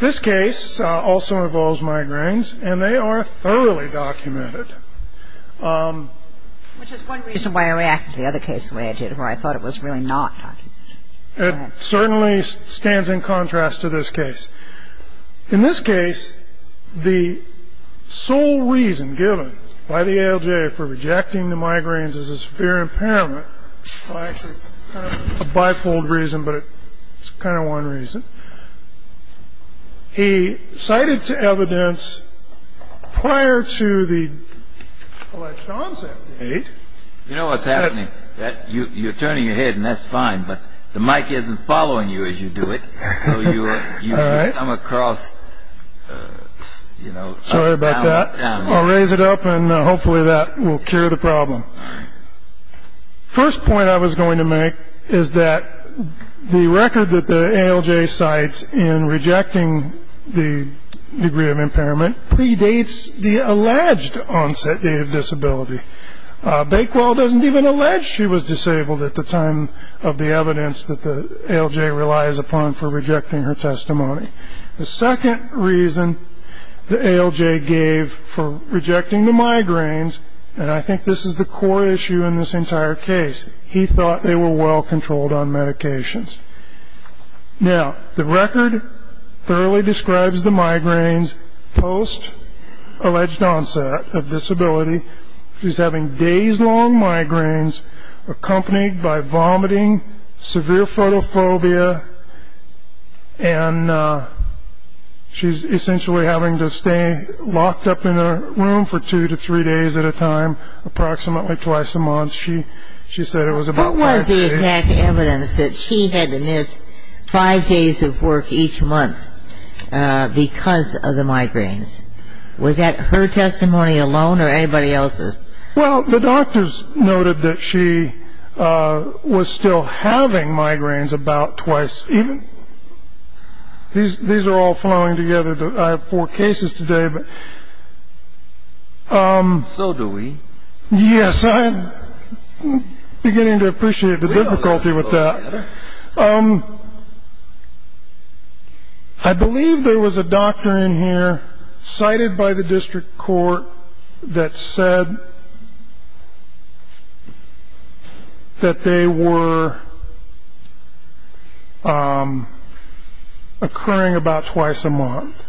This case also involves migraines, and they are thoroughly documented. Which is one reason why I reacted to the other case the way I did, where I thought it was really not documented. It certainly stands in contrast to this case. In this case, the sole reason given by the ALJ for rejecting the migraines is a severe impairment. A bifold reason, but it's kind of one reason. He cited to evidence prior to the election on September 8th You know what's happening. You're turning your head and that's fine, but the mic isn't following you as you do it. So you come across... Sorry about that. I'll raise it up and hopefully that will cure the problem. First point I was going to make is that the record that the ALJ cites in rejecting the degree of impairment predates the alleged onset date of disability. Bakewell doesn't even allege she was disabled at the time of the evidence that the ALJ relies upon for rejecting her testimony. The second reason the ALJ gave for rejecting the migraines, and I think this is the core issue in this entire case, he thought they were well controlled on medications. Now, the record thoroughly describes the migraines post alleged onset of disability. She's having days long migraines accompanied by vomiting, severe photophobia, and she's essentially having to stay locked up in her room for two to three days at a time, approximately twice a month. She said it was about five days. What was the exact evidence that she had to miss five days of work each month because of the migraines? Was that her testimony alone or anybody else's? Well, the doctors noted that she was still having migraines about twice. These are all flowing together. I have four cases today. So do we. Yes, I'm beginning to appreciate the difficulty with that. I believe there was a doctor in here cited by the district court that said that they were occurring about twice a month,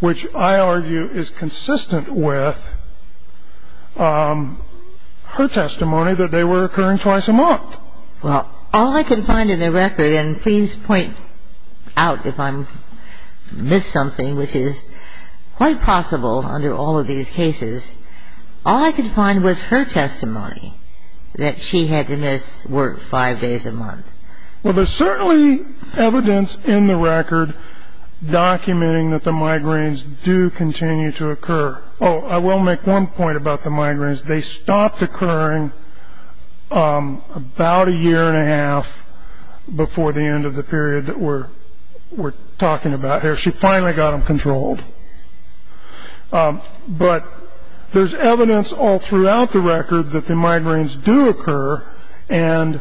which I argue is consistent with her testimony that they were occurring twice a month. Well, all I can find in the record, and please point out if I missed something, which is quite possible under all of these cases, all I could find was her testimony that she had to miss work five days a month. Well, there's certainly evidence in the record documenting that the migraines do continue to occur. Oh, I will make one point about the migraines. They stopped occurring about a year and a half before the end of the period that we're talking about here. She finally got them controlled. But there's evidence all throughout the record that the migraines do occur, and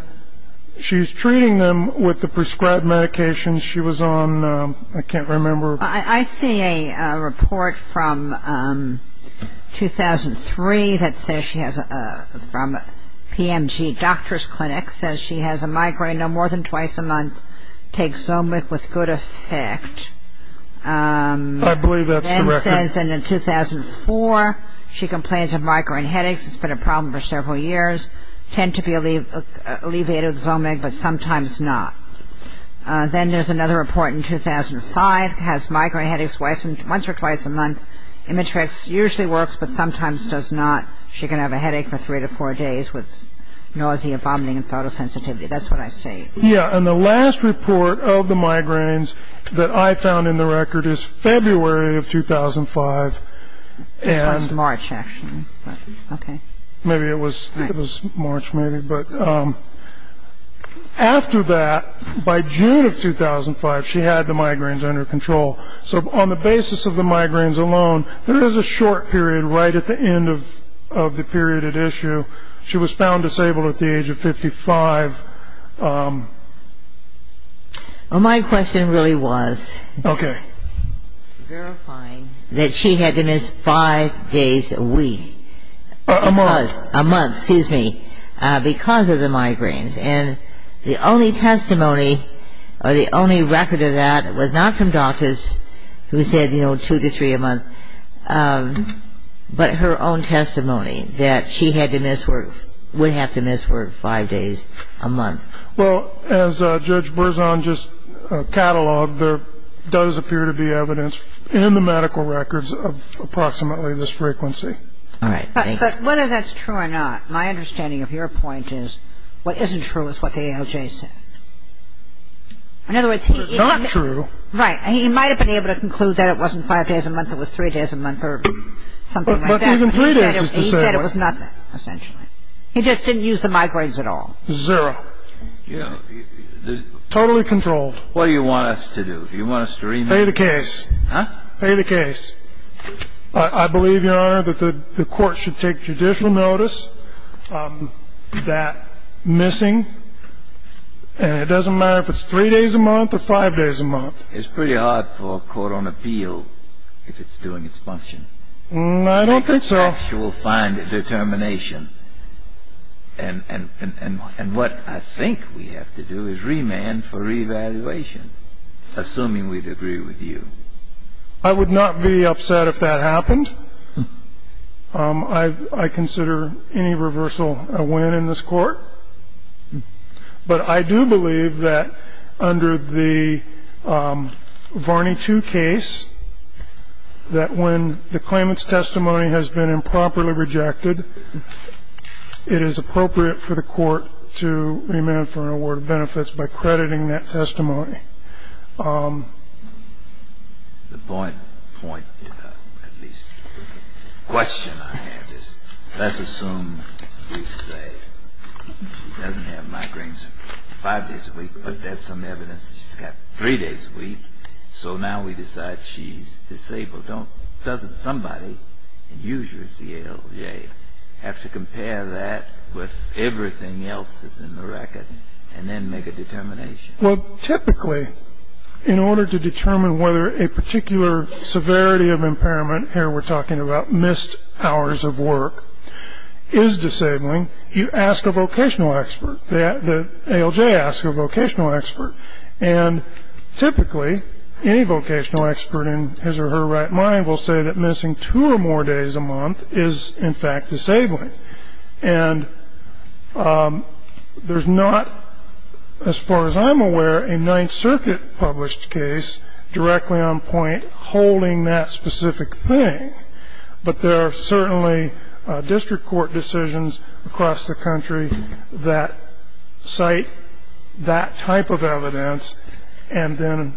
she's treating them with the prescribed medications she was on. I can't remember. I see a report from 2003 that says she has a PMG doctor's clinic, says she has a migraine no more than twice a month, takes Zomeg with good effect. I believe that's the record. Then it says in 2004 she complains of migraine headaches. It's been a problem for several years. Tend to be alleviated with Zomeg, but sometimes not. Then there's another report in 2005, has migraine headaches once or twice a month. Imitrex usually works, but sometimes does not. She can have a headache for three to four days with nausea, vomiting, and photosensitivity. That's what I see. Yeah, and the last report of the migraines that I found in the record is February of 2005. This one's March, actually. Okay. Maybe it was March, maybe. But after that, by June of 2005, she had the migraines under control. So on the basis of the migraines alone, there is a short period right at the end of the period at issue. She was found disabled at the age of 55. Well, my question really was verifying that she had to miss five days a week. A month. A month, excuse me, because of the migraines. And the only testimony or the only record of that was not from doctors who said, you know, two to three a month, but her own testimony that she would have to miss work five days a month. Well, as Judge Berzon just cataloged, there does appear to be evidence in the medical records of approximately this frequency. All right. But whether that's true or not, my understanding of your point is what isn't true is what the ALJ said. In other words, he — It's not true. Right. He might have been able to conclude that it wasn't five days a month, it was three days a month or something like that. But even three days is the same. He said it was nothing, essentially. He just didn't use the migraines at all. Zero. Yeah. Totally controlled. What do you want us to do? Do you want us to remit — Pay the case. Huh? Pay the case. I believe, Your Honor, that the court should take judicial notice of that missing. And it doesn't matter if it's three days a month or five days a month. It's pretty hard for a court on appeal if it's doing its function. I don't think so. Perhaps you will find a determination. And what I think we have to do is remand for reevaluation, assuming we'd agree with you. I would not be upset if that happened. I consider any reversal a win in this court. But I do believe that under the Varney 2 case, that when the claimant's testimony has been improperly rejected, it is appropriate for the court to remand for an award of benefits by crediting that testimony. The point, at least, question I have is let's assume we say she doesn't have migraines five days a week, but there's some evidence that she's got three days a week. So now we decide she's disabled. So doesn't somebody, and usually it's the ALJ, have to compare that with everything else that's in the record and then make a determination? Well, typically, in order to determine whether a particular severity of impairment, here we're talking about missed hours of work, is disabling, you ask a vocational expert. The ALJ asks a vocational expert. And typically, any vocational expert in his or her right mind will say that missing two or more days a month is, in fact, disabling. And there's not, as far as I'm aware, a Ninth Circuit-published case directly on point holding that specific thing. But there are certainly district court decisions across the country that cite that type of evidence and then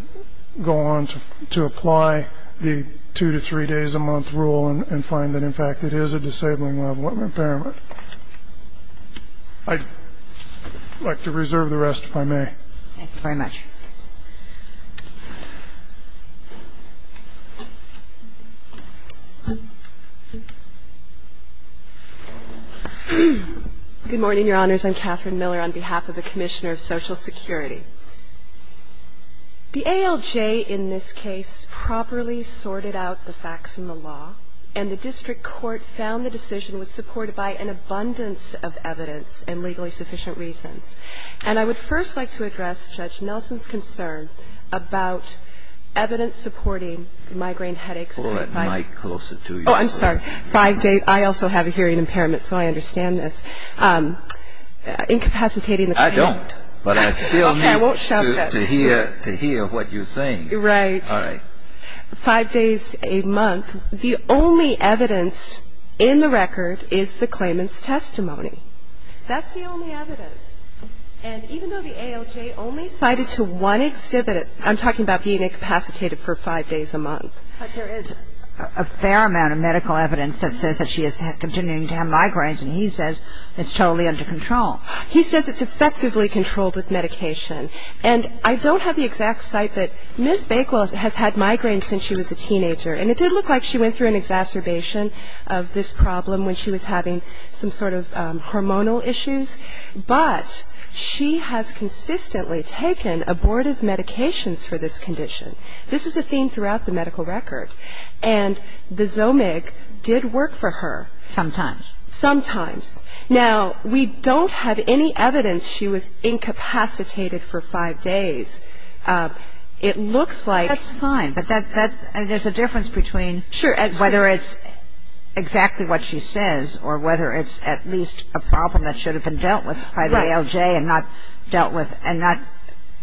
go on to apply the two to three days a month rule and find that, in fact, it is a disabling level of impairment. I'd like to reserve the rest, if I may. Thank you very much. Good morning, Your Honors. I'm Catherine Miller on behalf of the Commissioner of Social Security. The ALJ in this case properly sorted out the facts in the law, and the district court found the decision was supported by an abundance of evidence and legally sufficient reasons. And I would first like to address Judge Nelson's concern about evidence supporting migraine headaches. Pull that mic closer to you. Oh, I'm sorry. Five days. I also have a hearing impairment, so I understand this. Incapacitating the client. I don't, but I still need to hear what you're saying. Right. All right. Five days a month, the only evidence in the record is the claimant's testimony. That's the only evidence. And even though the ALJ only cited to one exhibit, I'm talking about being incapacitated for five days a month. But there is a fair amount of medical evidence that says that she is continuing to have migraines, and he says it's totally under control. He says it's effectively controlled with medication. And I don't have the exact site, but Ms. Bakewell has had migraines since she was a teenager, and it did look like she went through an exacerbation of this problem when she was having some sort of hormonal issues. But she has consistently taken abortive medications for this condition. This is a theme throughout the medical record. And the Zomig did work for her. Sometimes. Sometimes. Now, we don't have any evidence she was incapacitated for five days. It looks like ---- That's fine. And there's a difference between whether it's exactly what she says or whether it's at least a problem that should have been dealt with by the ALJ and not dealt with and not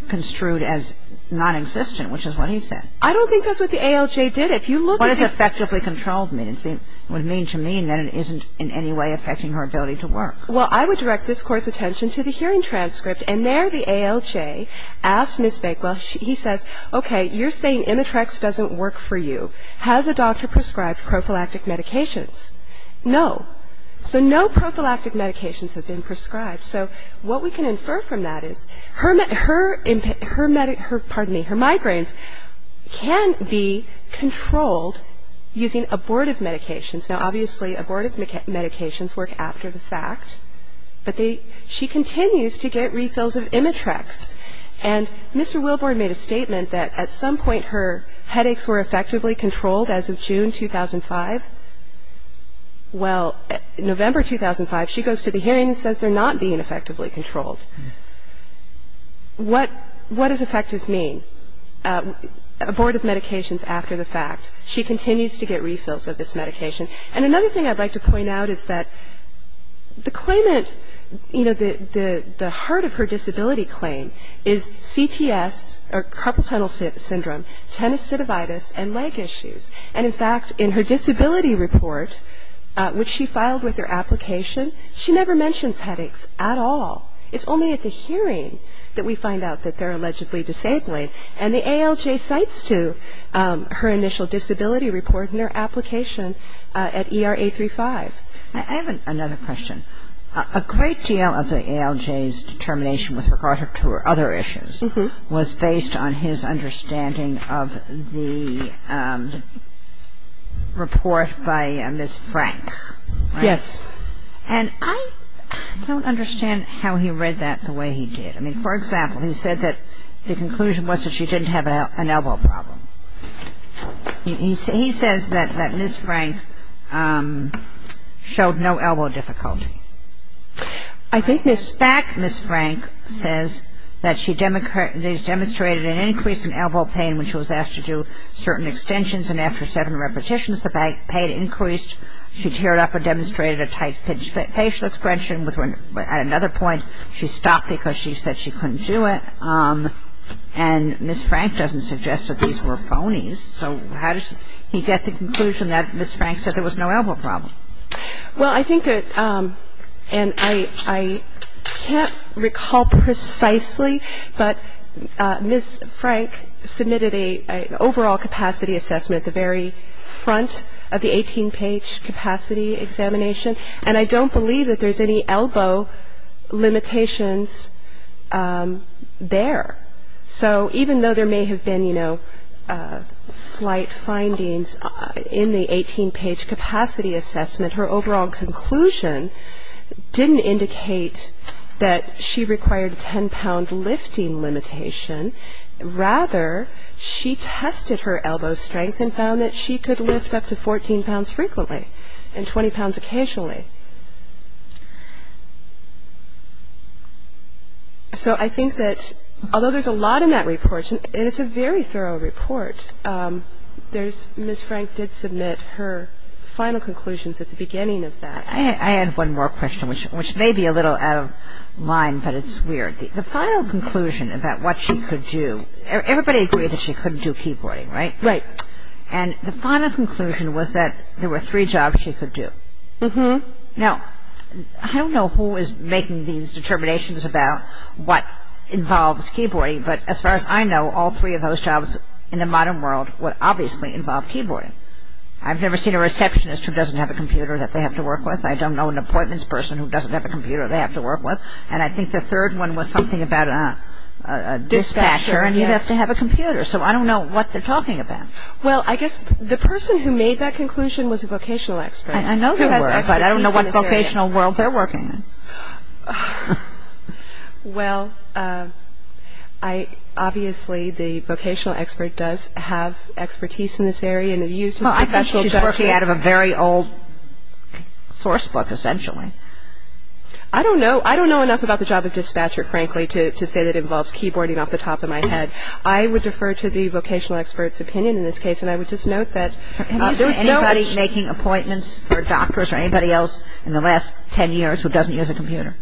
construed as nonexistent, which is what he said. I don't think that's what the ALJ did. If you look at the ---- What does effectively controlled mean? It would mean to me that it isn't in any way affecting her ability to work. Well, I would direct this Court's attention to the hearing transcript. And there the ALJ asked Ms. Bakewell, he says, okay, you're saying Imitrex doesn't work for you. Has a doctor prescribed prophylactic medications? No. So no prophylactic medications have been prescribed. So what we can infer from that is her migraines can be controlled using abortive medications. Now, obviously, abortive medications work after the fact. But she continues to get refills of Imitrex. And Mr. Wilborn made a statement that at some point her headaches were effectively controlled as of June 2005. Well, November 2005, she goes to the hearing and says they're not being effectively controlled. What does effective mean? Abortive medications after the fact. She continues to get refills of this medication. And another thing I'd like to point out is that the claimant, you know, the heart of her disability claim is CTS or carpal tunnel syndrome, tenosynovitis and leg issues. And in fact, in her disability report, which she filed with her application, she never mentions headaches at all. It's only at the hearing that we find out that they're allegedly disabling. And the ALJ cites to her initial disability report in her application at ERA 35. I have another question. A great deal of the ALJ's determination with regard to her other issues was based on his understanding of the report by Ms. Frank. Yes. And I don't understand how he read that the way he did. I mean, for example, he said that the conclusion was that she didn't have an elbow problem. He says that Ms. Frank showed no elbow difficulty. I think Ms. Frank says that she demonstrated an increase in elbow pain when she was asked to do certain extensions and after seven repetitions, the pain increased. She teared up and demonstrated a tight pitch. At another point, she stopped because she said she couldn't do it. And Ms. Frank doesn't suggest that these were phonies. So how does he get the conclusion that Ms. Frank said there was no elbow problem? Well, I think that, and I can't recall precisely, but Ms. Frank submitted an overall capacity assessment at the very front of the 18-page capacity examination. And I don't believe that there's any elbow limitations there. So even though there may have been, you know, slight findings in the 18-page capacity assessment, her overall conclusion didn't indicate that she required a 10-pound lifting limitation. Rather, she tested her elbow strength and found that she could lift up to 14 pounds frequently and 20 pounds occasionally. So I think that although there's a lot in that report, and it's a very thorough report, Ms. Frank did submit her final conclusions at the beginning of that. I had one more question, which may be a little out of line, but it's weird. The final conclusion about what she could do, everybody agreed that she couldn't do keyboarding, right? Right. And the final conclusion was that there were three jobs she could do. Now, I don't know who is making these determinations about what involves keyboarding, but as far as I know, all three of those jobs in the modern world would obviously involve keyboarding. I've never seen a receptionist who doesn't have a computer that they have to work with. I don't know an appointments person who doesn't have a computer they have to work with. And I think the third one was something about a dispatcher, and he has to have a computer. So I don't know what they're talking about. Well, I guess the person who made that conclusion was a vocational expert. I know they were, but I don't know what vocational world they're working in. Well, I – obviously the vocational expert does have expertise in this area. Well, I think she's working out of a very old source book, essentially. I don't know. I don't know enough about the job of dispatcher, frankly, to say that it involves keyboarding off the top of my head. I would defer to the vocational expert's opinion in this case, and I would just note that there was no – I don't know if there were doctors or anybody else in the last 10 years who doesn't use a computer.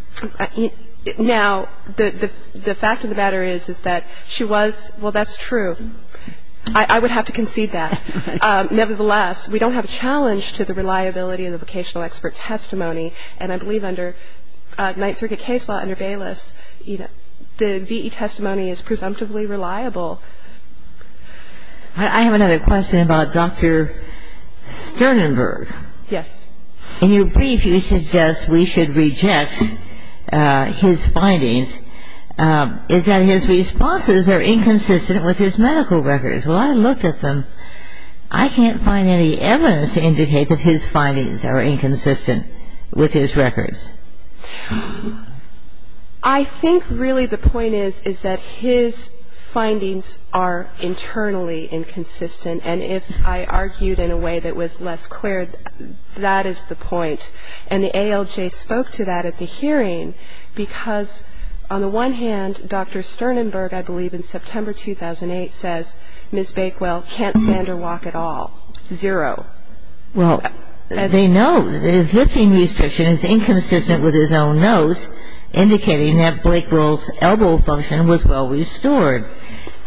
Now, the fact of the matter is, is that she was – well, that's true. I would have to concede that. Nevertheless, we don't have a challenge to the reliability of the vocational expert testimony, and I believe under Ninth Circuit case law under Bayless, the V.E. testimony is presumptively reliable. I have another question about Dr. Sternenberg. Yes. In your brief, you suggest we should reject his findings, is that his responses are inconsistent with his medical records. Well, I looked at them. I can't find any evidence to indicate that his findings are inconsistent with his records. I think really the point is, is that his findings are internally inconsistent, and if I argued in a way that was less clear, that is the point. And the ALJ spoke to that at the hearing because, on the one hand, Dr. Sternenberg, I believe in September 2008, says Ms. Bakewell can't stand or walk at all. Zero. Well, they note that his lifting restriction is inconsistent with his own notes, indicating that Blakewell's elbow function was well restored.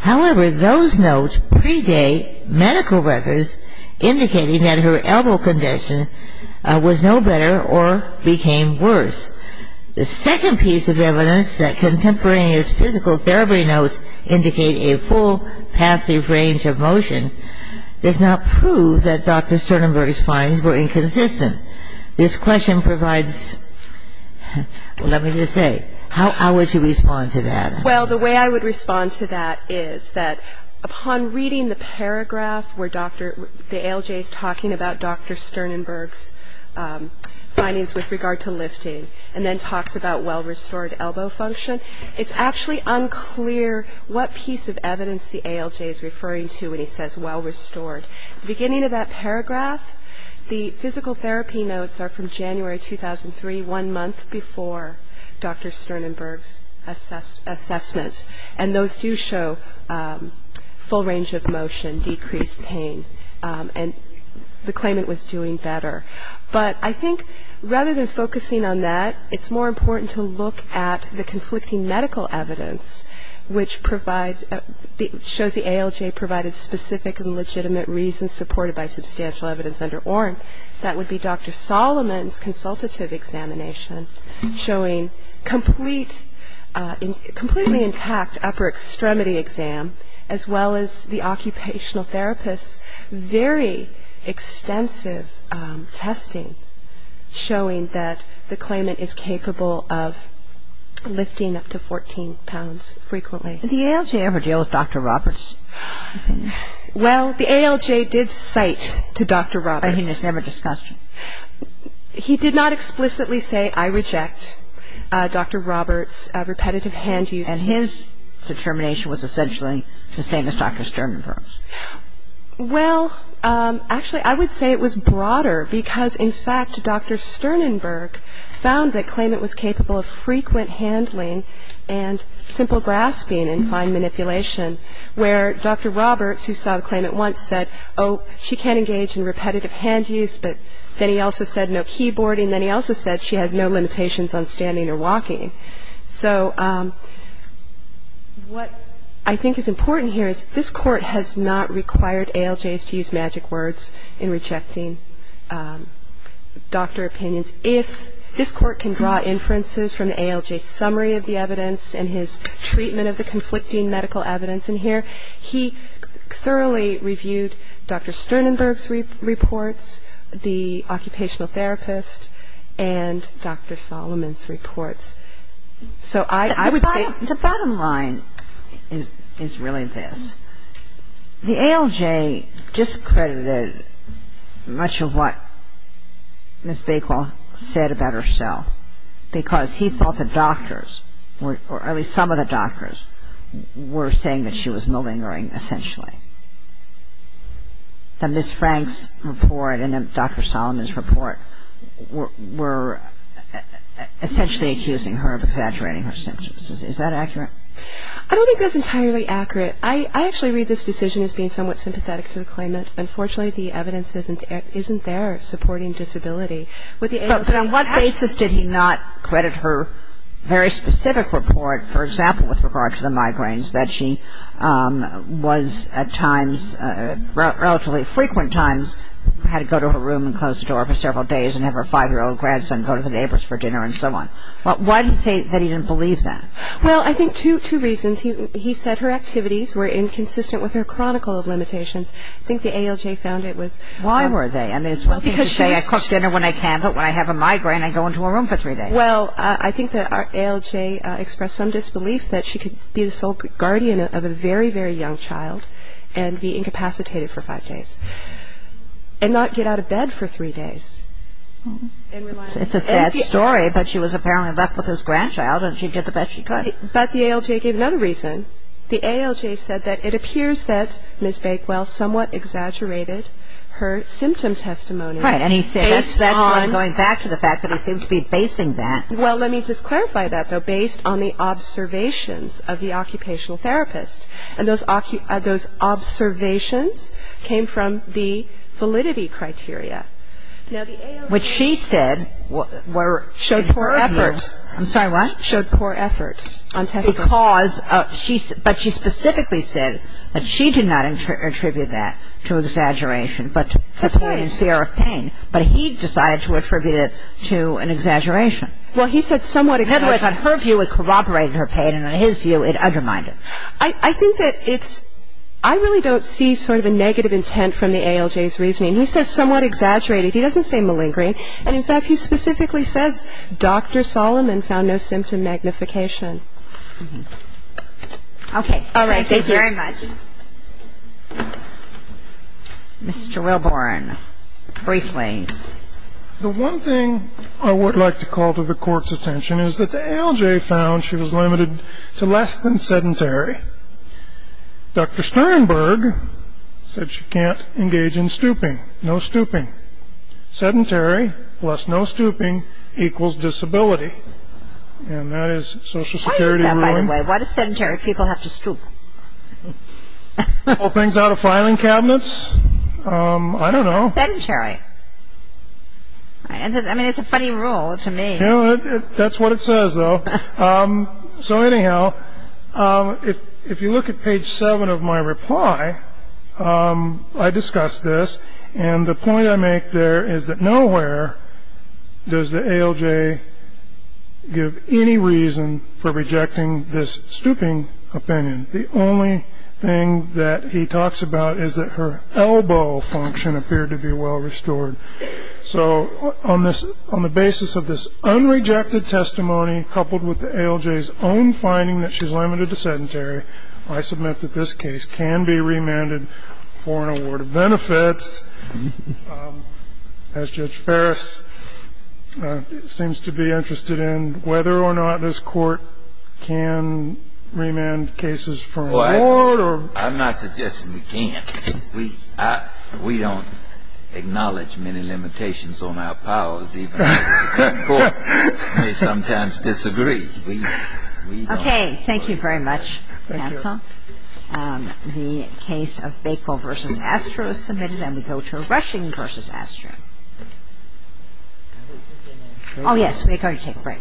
However, those notes predate medical records indicating that her elbow condition was no better or became worse. The second piece of evidence, that contemporaneous physical therapy notes indicate a full passive range of motion, does not prove that Dr. Sternenberg's findings were inconsistent. This question provides, well, let me just say, how would you respond to that? Well, the way I would respond to that is that upon reading the paragraph where the ALJ is talking about Dr. Sternenberg's findings with regard to lifting and then talks about well restored elbow function, it's actually unclear what piece of evidence the ALJ is referring to when he says well restored. At the beginning of that paragraph, the physical therapy notes are from January 2003, one month before Dr. Sternenberg's assessment. And those do show full range of motion, decreased pain, and the claimant was doing better. But I think rather than focusing on that, it's more important to look at the conflicting medical evidence, which shows the ALJ provided specific and legitimate reasons supported by substantial evidence under Oren. That would be Dr. Solomon's consultative examination showing complete, completely intact upper extremity exam, as well as the occupational therapist's very extensive testing showing that the claimant is capable of lifting up to 14 pounds frequently. The ALJ ever deal with Dr. Roberts? Well, the ALJ did cite to Dr. Roberts. But he never discussed it? He did not explicitly say I reject Dr. Roberts' repetitive hand use. And his determination was essentially the same as Dr. Sternenberg's? Well, actually, I would say it was broader because, in fact, Dr. Sternenberg found the claimant was capable of frequent handling and simple grasping and fine manipulation, where Dr. Roberts, who saw the claimant once, said, oh, she can't engage in repetitive hand use. But then he also said no keyboarding. Then he also said she had no limitations on standing or walking. So what I think is important here is this Court has not required ALJs to use magic words in rejecting doctor opinions. If this Court can draw inferences from the ALJ's summary of the evidence and his treatment of the conflicting medical evidence in here, he thoroughly reviewed Dr. Sternenberg's reports, the occupational therapist, and Dr. Solomon's reports. So I would say the bottom line is really this. The ALJ discredited much of what Ms. Bakewell said about herself because he thought the doctors, or at least some of the doctors, were saying that she was malingering essentially. The Ms. Frank's report and Dr. Solomon's report were essentially accusing her of exaggerating her symptoms. Is that accurate? I don't think that's entirely accurate. I actually read this decision as being somewhat sympathetic to the claimant. Unfortunately, the evidence isn't there supporting disability. But on what basis did he not credit her very specific report, for example, with regard to the migraines, that she was at times, relatively frequent times, had to go to her room and close the door for several days and have her 5-year-old grandson go to the neighbor's for dinner and so on? Why did he say that he didn't believe that? Well, I think two reasons. He said her activities were inconsistent with her chronicle of limitations. I think the ALJ found it was. Why were they? Well, because she was. I cook dinner when I can, but when I have a migraine, I go into a room for three days. Well, I think the ALJ expressed some disbelief that she could be the sole guardian of a very, very young child and be incapacitated for five days and not get out of bed for three days. It's a sad story, but she was apparently left with this grandchild, and she did the best she could. But the ALJ gave another reason. The ALJ said that it appears that Ms. Bakewell somewhat exaggerated her symptom testimony. Right. And he said that's why I'm going back to the fact that he seemed to be basing that. Well, let me just clarify that, though, based on the observations of the occupational therapist. And those observations came from the validity criteria. Now, the ALJ. Which she said were. Showed poor effort. I'm sorry, what? Showed poor effort on testimony. Because she, but she specifically said that she did not attribute that to exaggeration, but to pain and fear of pain. But he decided to attribute it to an exaggeration. Well, he said somewhat exaggerated. In other words, on her view, it corroborated her pain, and on his view, it undermined it. I think that it's, I really don't see sort of a negative intent from the ALJ's reasoning. He says somewhat exaggerated. He doesn't say malingering. And, in fact, he specifically says Dr. Solomon found no symptom magnification. Okay. All right. Thank you very much. Ms. Gerrelborn, briefly. The one thing I would like to call to the Court's attention is that the ALJ found she was limited to less than sedentary. Dr. Sternberg said she can't engage in stooping. No stooping. Sedentary plus no stooping equals disability. And that is Social Security ruling. Why is that, by the way? Why do sedentary people have to stoop? Pull things out of filing cabinets? I don't know. Sedentary. I mean, it's a funny rule to me. That's what it says, though. So, anyhow, if you look at page 7 of my reply, I discuss this, and the point I make there is that nowhere does the ALJ give any reason for rejecting this stooping opinion. The only thing that he talks about is that her elbow function appeared to be well restored. So on the basis of this unrejected testimony, coupled with the ALJ's own finding that she's limited to sedentary, I submit that this case can be remanded for an award of benefits. As Judge Ferris seems to be interested in whether or not this Court can remand cases for an award or not. I'm not suggesting we can't. We don't acknowledge many limitations on our powers, even though the Supreme Court may sometimes disagree. Okay, thank you very much, Hansel. The case of Bacol versus Astro is submitted, and we go to Rushing versus Astro. Oh, yes, we are going to take a break.